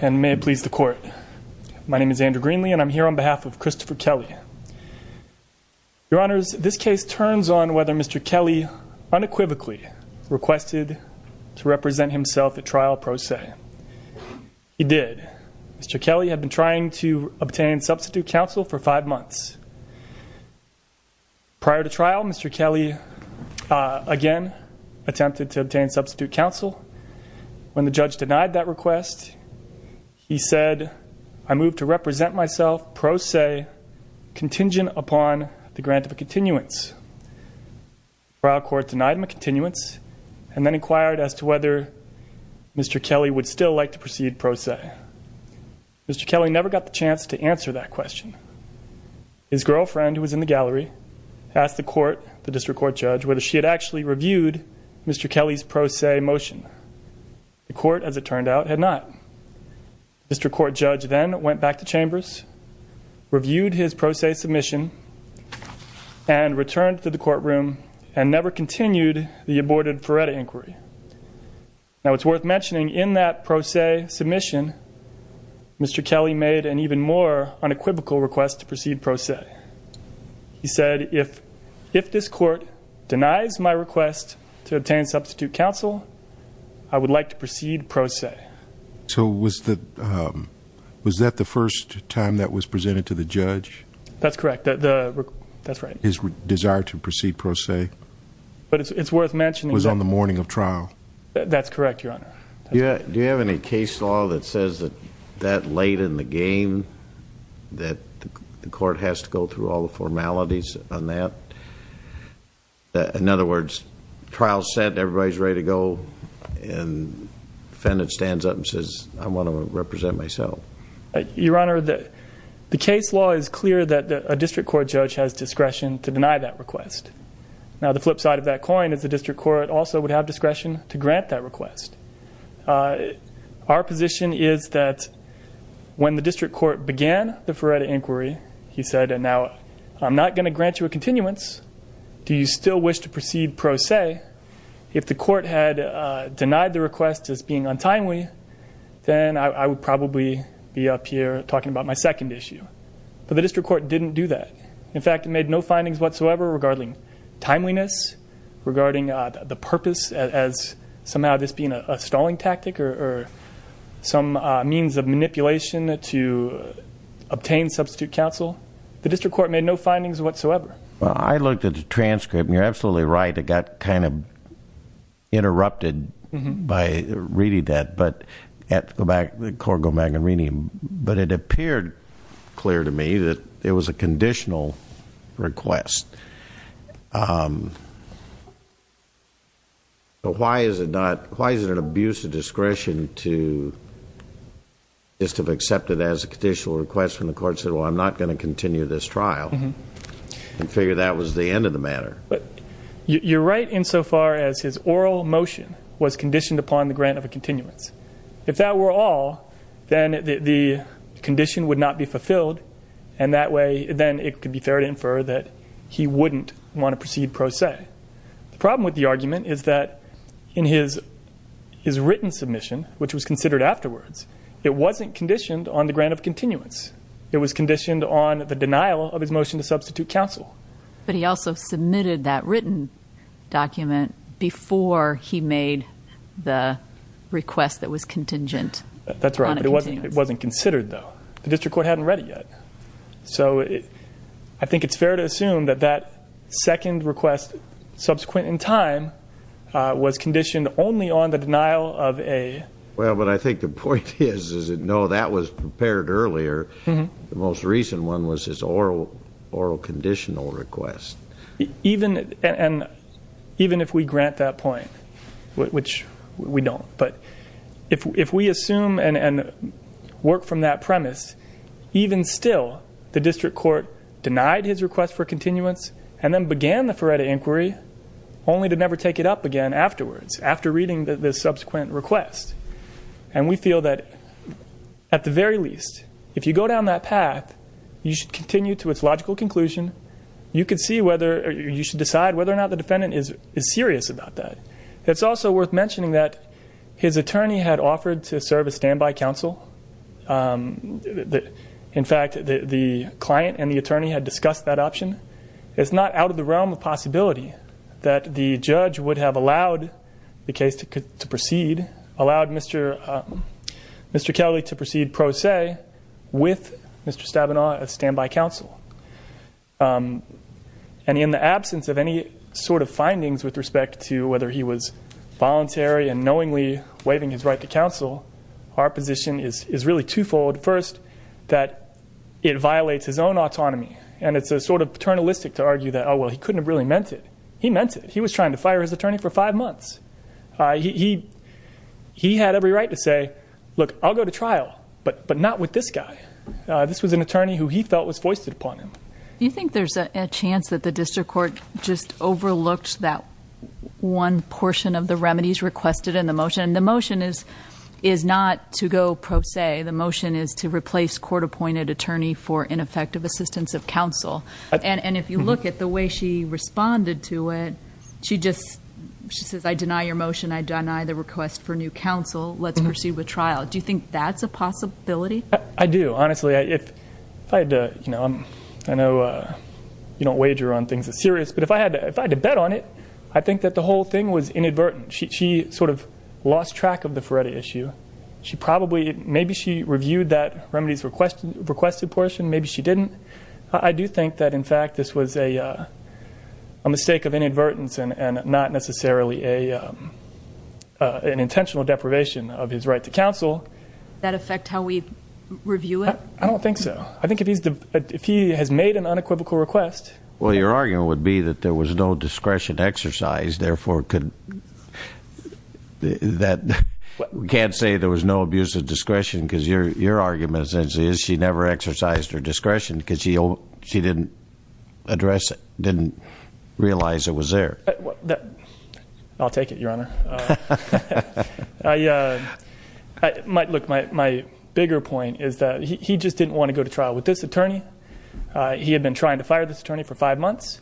And may it please the court. My name is Andrew Greenlee and I'm here on behalf of Christopher Kelley. Your honors, this case turns on whether Mr. Kelley unequivocally requested to represent himself at trial pro se. He did. Mr. Kelley had been trying to obtain substitute counsel for five months. Prior to trial, Mr. Kelley again attempted to obtain substitute counsel. When the judge denied that request, he said, I move to represent myself pro se contingent upon the grant of a continuance. Trial court denied him a continuance and then inquired as to whether Mr. Kelley would still like to proceed pro se. Mr. Kelley never got the chance to answer that question. His girlfriend, who was in the gallery, asked the court, the district court judge, whether she had actually reviewed Mr. Kelley's pro se motion. The court, as it turned out, had not. Mr. Court Judge then went back to chambers, reviewed his pro se submission, and returned to the courtroom, and never continued the aborted Feretta inquiry. Now it's worth mentioning in that pro se submission, Mr. Kelley made an even more unequivocal request to proceed pro se. He said, if this court denies my request to obtain substitute counsel, I would like to proceed pro se. So was that the first time that was presented to the judge? That's correct, that's right. His desire to proceed pro se. But it's worth mentioning that- Was on the morning of trial. That's correct, your honor. Yeah, do you have any case law that says that that late in the game, that the court has to go through all the formalities on that? In other words, trial's set, everybody's ready to go, and the defendant stands up and says, I want to represent myself. Your honor, the case law is clear that a district court judge has discretion to deny that request. Now the flip side of that coin is the district court also would have discretion to grant that request. Our position is that when the district court began the Feretta inquiry, he said, and now I'm not going to grant you a continuance. Do you still wish to proceed pro se? If the court had denied the request as being untimely, then I would probably be up here talking about my second issue. But the district court didn't do that. In fact, it made no findings whatsoever regarding timeliness, regarding the purpose as somehow this being a stalling tactic or some means of manipulation to obtain substitute counsel. The district court made no findings whatsoever. Well, I looked at the transcript, and you're absolutely right. It got kind of interrupted by reading that. But I have to go back to the Corgo Magna Renum. But it appeared clear to me that it was a conditional request. But why is it an abuse of discretion to just have accepted as a conditional request when the court said, well, I'm not going to continue this trial, and figure that was the end of the matter? You're right insofar as his oral motion was conditioned upon the grant of a continuance. If that were all, then the condition would not be fulfilled, and then it could be fair to infer that he wouldn't want to proceed pro se. The problem with the argument is that in his written submission, which was considered afterwards, it wasn't conditioned on the grant of continuance. It was conditioned on the denial of his motion to substitute counsel. But he also submitted that written document before he made the request that was contingent on a continuance. That's right, but it wasn't considered, though. The district court hadn't read it yet. So I think it's fair to assume that that second request, subsequent in time, was conditioned only on the denial of a- Well, but I think the point is, is that no, that was prepared earlier. The most recent one was his oral conditional request. Even if we grant that point, which we don't. But if we assume and work from that premise, even still, the district court denied his request for continuance, and then began the Feretta inquiry, only to never take it up again afterwards, after reading the subsequent request. And we feel that, at the very least, if you go down that path, you should continue to its logical conclusion. You should decide whether or not the defendant is serious about that. It's also worth mentioning that his attorney had offered to serve as standby counsel. In fact, the client and the attorney had discussed that option. It's not out of the realm of possibility that the judge would have allowed the case to proceed, allowed Mr. Kelly to proceed pro se with Mr. Stabenow as standby counsel. And in the absence of any sort of findings with respect to whether he was voluntary and knowingly waiving his right to counsel, our position is really twofold. First, that it violates his own autonomy, and it's a sort of paternalistic to argue that, well, he couldn't have really meant it. He meant it. He was trying to fire his attorney for five months. He had every right to say, look, I'll go to trial, but not with this guy. This was an attorney who he felt was foisted upon him. You think there's a chance that the district court just overlooked that one portion of the remedies requested in the motion? And the motion is not to go pro se. The motion is to replace court-appointed attorney for ineffective assistance of counsel. And if you look at the way she responded to it, she just, she says, I deny your motion. I deny the request for new counsel. Let's proceed with trial. Do you think that's a possibility? I do. Honestly, if I had to, I know you don't wager on things as serious. But if I had to bet on it, I think that the whole thing was inadvertent. She sort of lost track of the Ferretti issue. She probably, maybe she reviewed that remedies requested portion, maybe she didn't. I do think that, in fact, this was a mistake of inadvertence and not necessarily an intentional deprivation of his right to counsel. That affect how we review it? I don't think so. I think if he has made an unequivocal request. Well, your argument would be that there was no discretion exercised, therefore could, that we can't say there was no abuse of discretion, because your argument essentially is she never exercised her discretion. Because she didn't address it, didn't realize it was there. I'll take it, Your Honor. Look, my bigger point is that he just didn't want to go to trial with this attorney. He had been trying to fire this attorney for five months.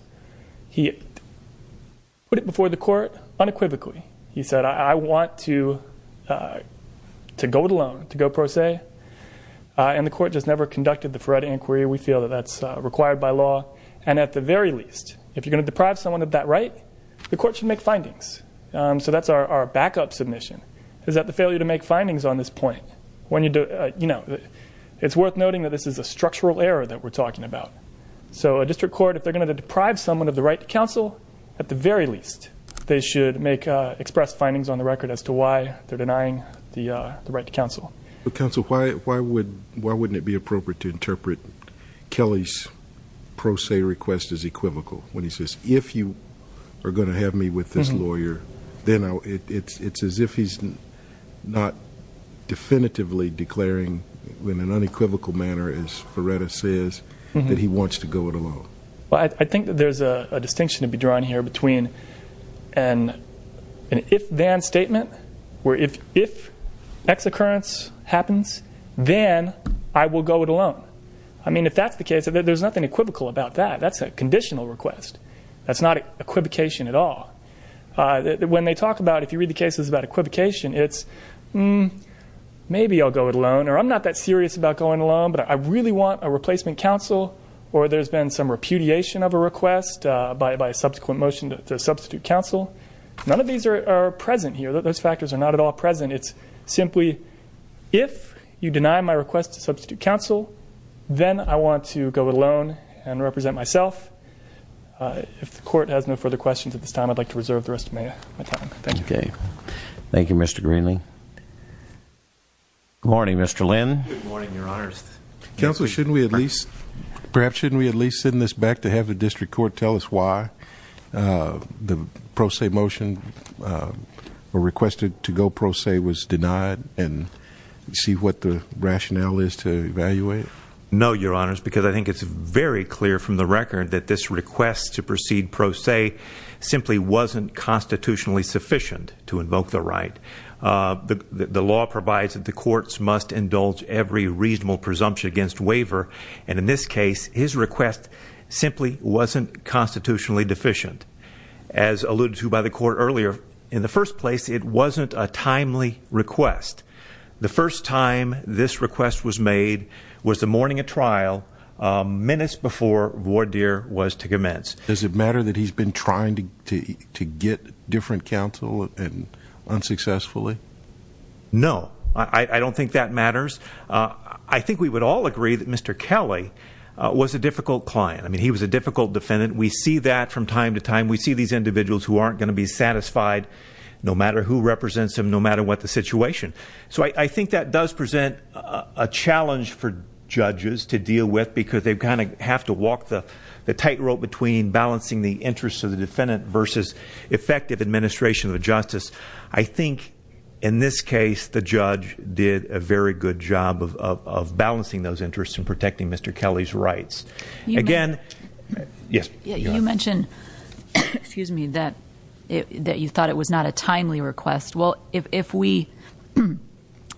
He put it before the court unequivocally. He said, I want to go it alone, to go pro se. And the court just never conducted the Ferretti inquiry. We feel that that's required by law. And at the very least, if you're going to deprive someone of that right, the court should make findings. So that's our backup submission, is that the failure to make findings on this point. When you do, it's worth noting that this is a structural error that we're talking about. So a district court, if they're going to deprive someone of the right to counsel, at the very least, they should make express findings on the record as to why they're denying the right to counsel. But counsel, why wouldn't it be appropriate to interpret Kelly's pro se request as equivocal? When he says, if you are going to have me with this lawyer, then it's as if he's not definitively declaring, in an unequivocal manner, as Ferretti says, that he wants to go it alone. Well, I think that there's a distinction to be drawn here between an if-then statement, where if ex-occurrence happens, then I will go it alone. I mean, if that's the case, there's nothing equivocal about that. That's a conditional request. That's not equivocation at all. When they talk about, if you read the cases about equivocation, it's, maybe I'll go it alone, or I'm not that serious about going it alone, but I really want a replacement counsel, or there's been some repudiation of a request by a subsequent motion to substitute counsel. None of these are present here. Those factors are not at all present. It's simply, if you deny my request to substitute counsel, then I want to go it alone and represent myself. If the court has no further questions at this time, I'd like to reserve the rest of my time. Thank you. Okay. Thank you, Mr. Greenlee. Good morning, Mr. Lynn. Good morning, your honors. Counsel, shouldn't we at least, perhaps shouldn't we at least send this back to have the district court tell us why the pro se motion or requested to go pro se was denied and see what the rationale is to evaluate? No, your honors, because I think it's very clear from the record that this request to proceed pro se simply wasn't constitutionally sufficient to invoke the right. The law provides that the courts must indulge every reasonable presumption against waiver, and in this case, his request simply wasn't constitutionally deficient. As alluded to by the court earlier, in the first place, it wasn't a timely request. The first time this request was made was the morning of trial, minutes before voir dire was to commence. Does it matter that he's been trying to get different counsel and unsuccessfully? No, I don't think that matters. I think we would all agree that Mr. Kelly was a difficult client. I mean, he was a difficult defendant. We see that from time to time. We see these individuals who aren't going to be satisfied no matter who represents them, no matter what the situation. So I think that does present a challenge for judges to deal with, because they kind of have to walk the tightrope between balancing the interests of the defendant versus effective administration of the justice. I think in this case, the judge did a very good job of balancing those interests and protecting Mr. Kelly's rights. Again, yes. You mentioned, excuse me, that you thought it was not a timely request. Well, if we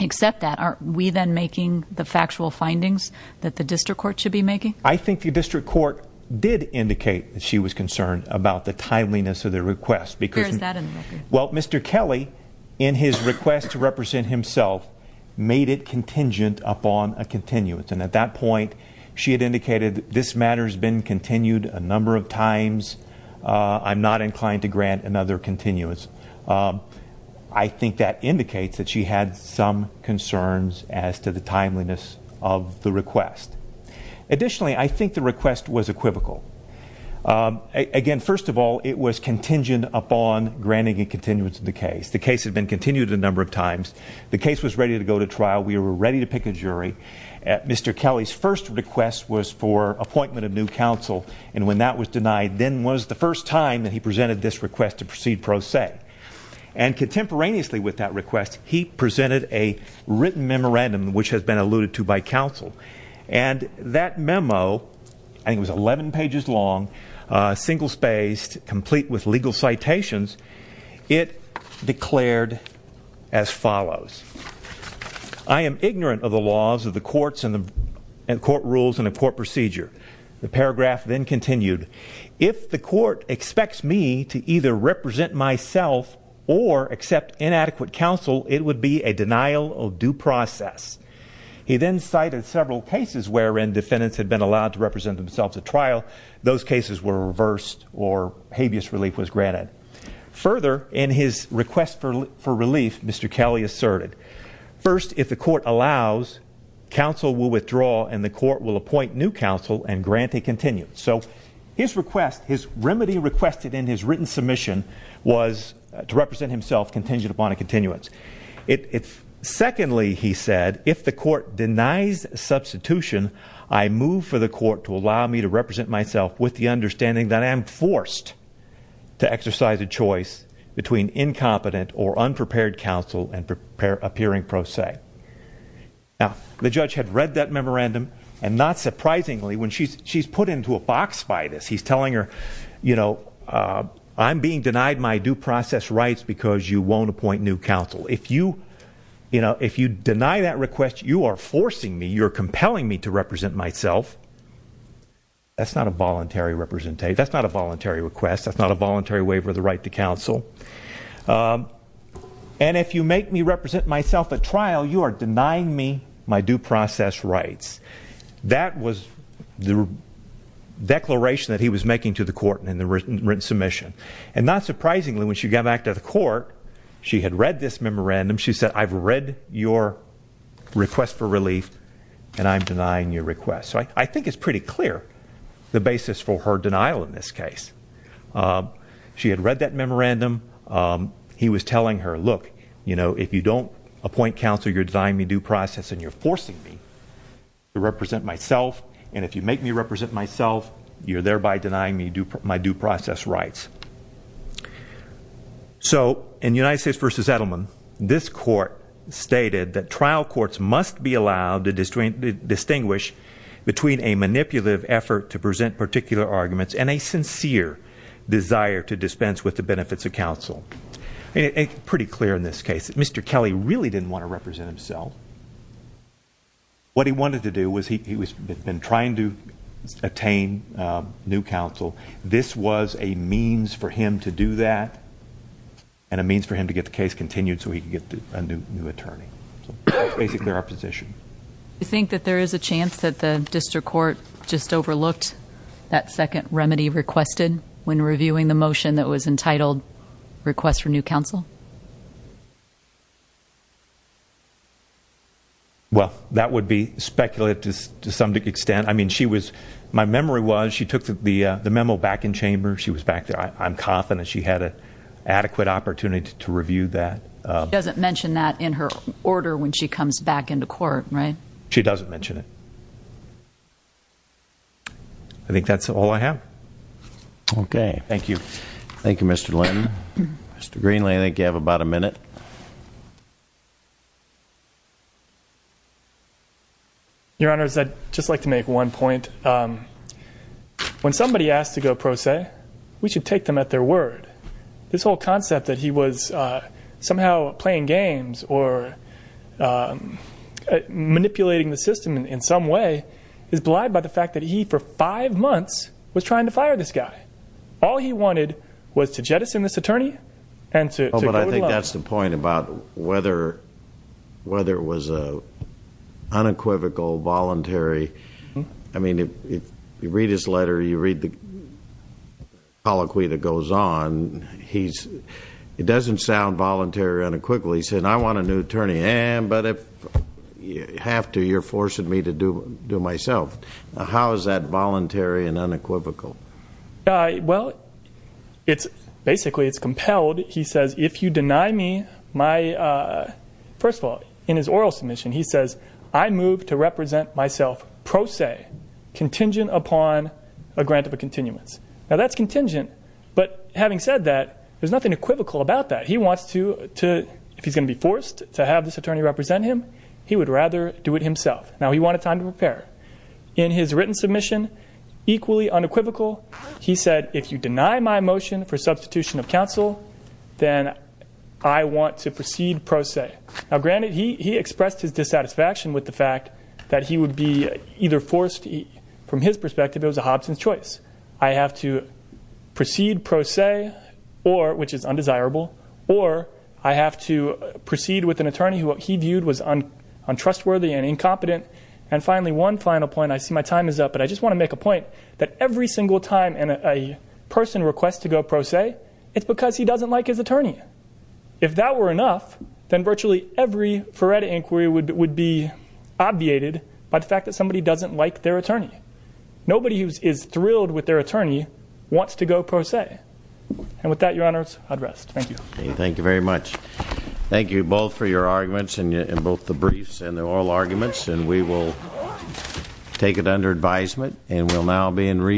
accept that, aren't we then making the factual findings that the district court should be making? I think the district court did indicate that she was concerned about the timeliness of the request. Where is that in the bill? Well, Mr. Kelly, in his request to represent himself, made it contingent upon a continuance. And at that point, she had indicated this matter's been continued a number of times. I'm not inclined to grant another continuance. I think that indicates that she had some concerns as to the timeliness of the request. Additionally, I think the request was equivocal. Again, first of all, it was contingent upon granting a continuance of the case. The case had been continued a number of times. The case was ready to go to trial. We were ready to pick a jury. Mr. Kelly's first request was for appointment of new counsel. And when that was denied, then was the first time that he presented this request to proceed pro se. And contemporaneously with that request, he presented a written memorandum, which has been alluded to by counsel. And that memo, I think it was 11 pages long, single spaced, complete with legal citations, it declared as follows. I am ignorant of the laws of the courts and court rules and the court procedure. The paragraph then continued. If the court expects me to either represent myself or accept inadequate counsel, it would be a denial of due process. He then cited several cases wherein defendants had been allowed to represent themselves at trial. Those cases were reversed or habeas relief was granted. Further, in his request for relief, Mr. Kelly asserted. First, if the court allows, counsel will withdraw and the court will appoint new counsel and grant a continuance. So his request, his remedy requested in his written submission was to represent himself contingent upon a continuance. Secondly, he said, if the court denies substitution, I move for the court to allow me to represent myself with the understanding that I am forced to exercise a choice between incompetent or unprepared counsel and appearing pro se. Now, the judge had read that memorandum, and not surprisingly, when she's put into a box by this, he's telling her, I'm being denied my due process rights because you won't appoint new counsel. If you deny that request, you are forcing me, you're compelling me to represent myself. That's not a voluntary request, that's not a voluntary waiver of the right to counsel. And if you make me represent myself at trial, you are denying me my due process rights. That was the declaration that he was making to the court in the written submission. And not surprisingly, when she got back to the court, she had read this memorandum. She said, I've read your request for relief, and I'm denying your request. So I think it's pretty clear the basis for her denial in this case. She had read that memorandum. He was telling her, look, if you don't appoint counsel, you're denying me due process and you're forcing me. To represent myself, and if you make me represent myself, you're thereby denying me my due process rights. So in United States versus Edelman, this court stated that trial courts must be allowed to distinguish between a manipulative effort to present particular arguments and a sincere desire to dispense with the benefits of counsel. And it's pretty clear in this case that Mr. Kelly really didn't want to represent himself. What he wanted to do was, he had been trying to attain new counsel. This was a means for him to do that, and a means for him to get the case continued so he could get a new attorney, so that's basically our position. You think that there is a chance that the district court just overlooked that second remedy requested when reviewing the motion that was entitled request for new counsel? Well, that would be speculative to some extent. I mean, my memory was she took the memo back in chamber. She was back there. I'm confident she had an adequate opportunity to review that. She doesn't mention that in her order when she comes back into court, right? She doesn't mention it. I think that's all I have. Okay, thank you. Thank you, Mr. Linton. Mr. Greenlee, I think you have about a minute. Your Honor, I'd just like to make one point. When somebody asks to go pro se, we should take them at their word. This whole concept that he was somehow playing games or manipulating the system in some way is blind by the fact that he, for five months, was trying to fire this guy. All he wanted was to jettison this attorney and to go to- I think that's the point about whether it was unequivocal, voluntary. I mean, if you read his letter, you read the colloquy that goes on. It doesn't sound voluntary or unequivocal. He said, I want a new attorney, but if you have to, you're forcing me to do it myself. How is that voluntary and unequivocal? Well, basically it's compelled. He says, if you deny me my, first of all, in his oral submission, he says, I move to represent myself pro se, contingent upon a grant of a continuance. Now that's contingent, but having said that, there's nothing equivocal about that. He wants to, if he's going to be forced to have this attorney represent him, he would rather do it himself. Now he wanted time to prepare. In his written submission, equally unequivocal. He said, if you deny my motion for substitution of counsel, then I want to proceed pro se. Now granted, he expressed his dissatisfaction with the fact that he would be either forced, from his perspective, it was a Hobson's choice. I have to proceed pro se, or, which is undesirable, or I have to proceed with an attorney who he viewed was untrustworthy and incompetent. And finally, one final point, I see my time is up, but I just want to make a point that every single time a person requests to go pro se, it's because he doesn't like his attorney. If that were enough, then virtually every Ferretta inquiry would be obviated by the fact that somebody doesn't like their attorney. Nobody who is thrilled with their attorney wants to go pro se. And with that, your honors, I'd rest. Thank you. Thank you very much. Thank you both for your arguments, and both the briefs and the oral arguments. And we will take it under advisement, and we'll now be in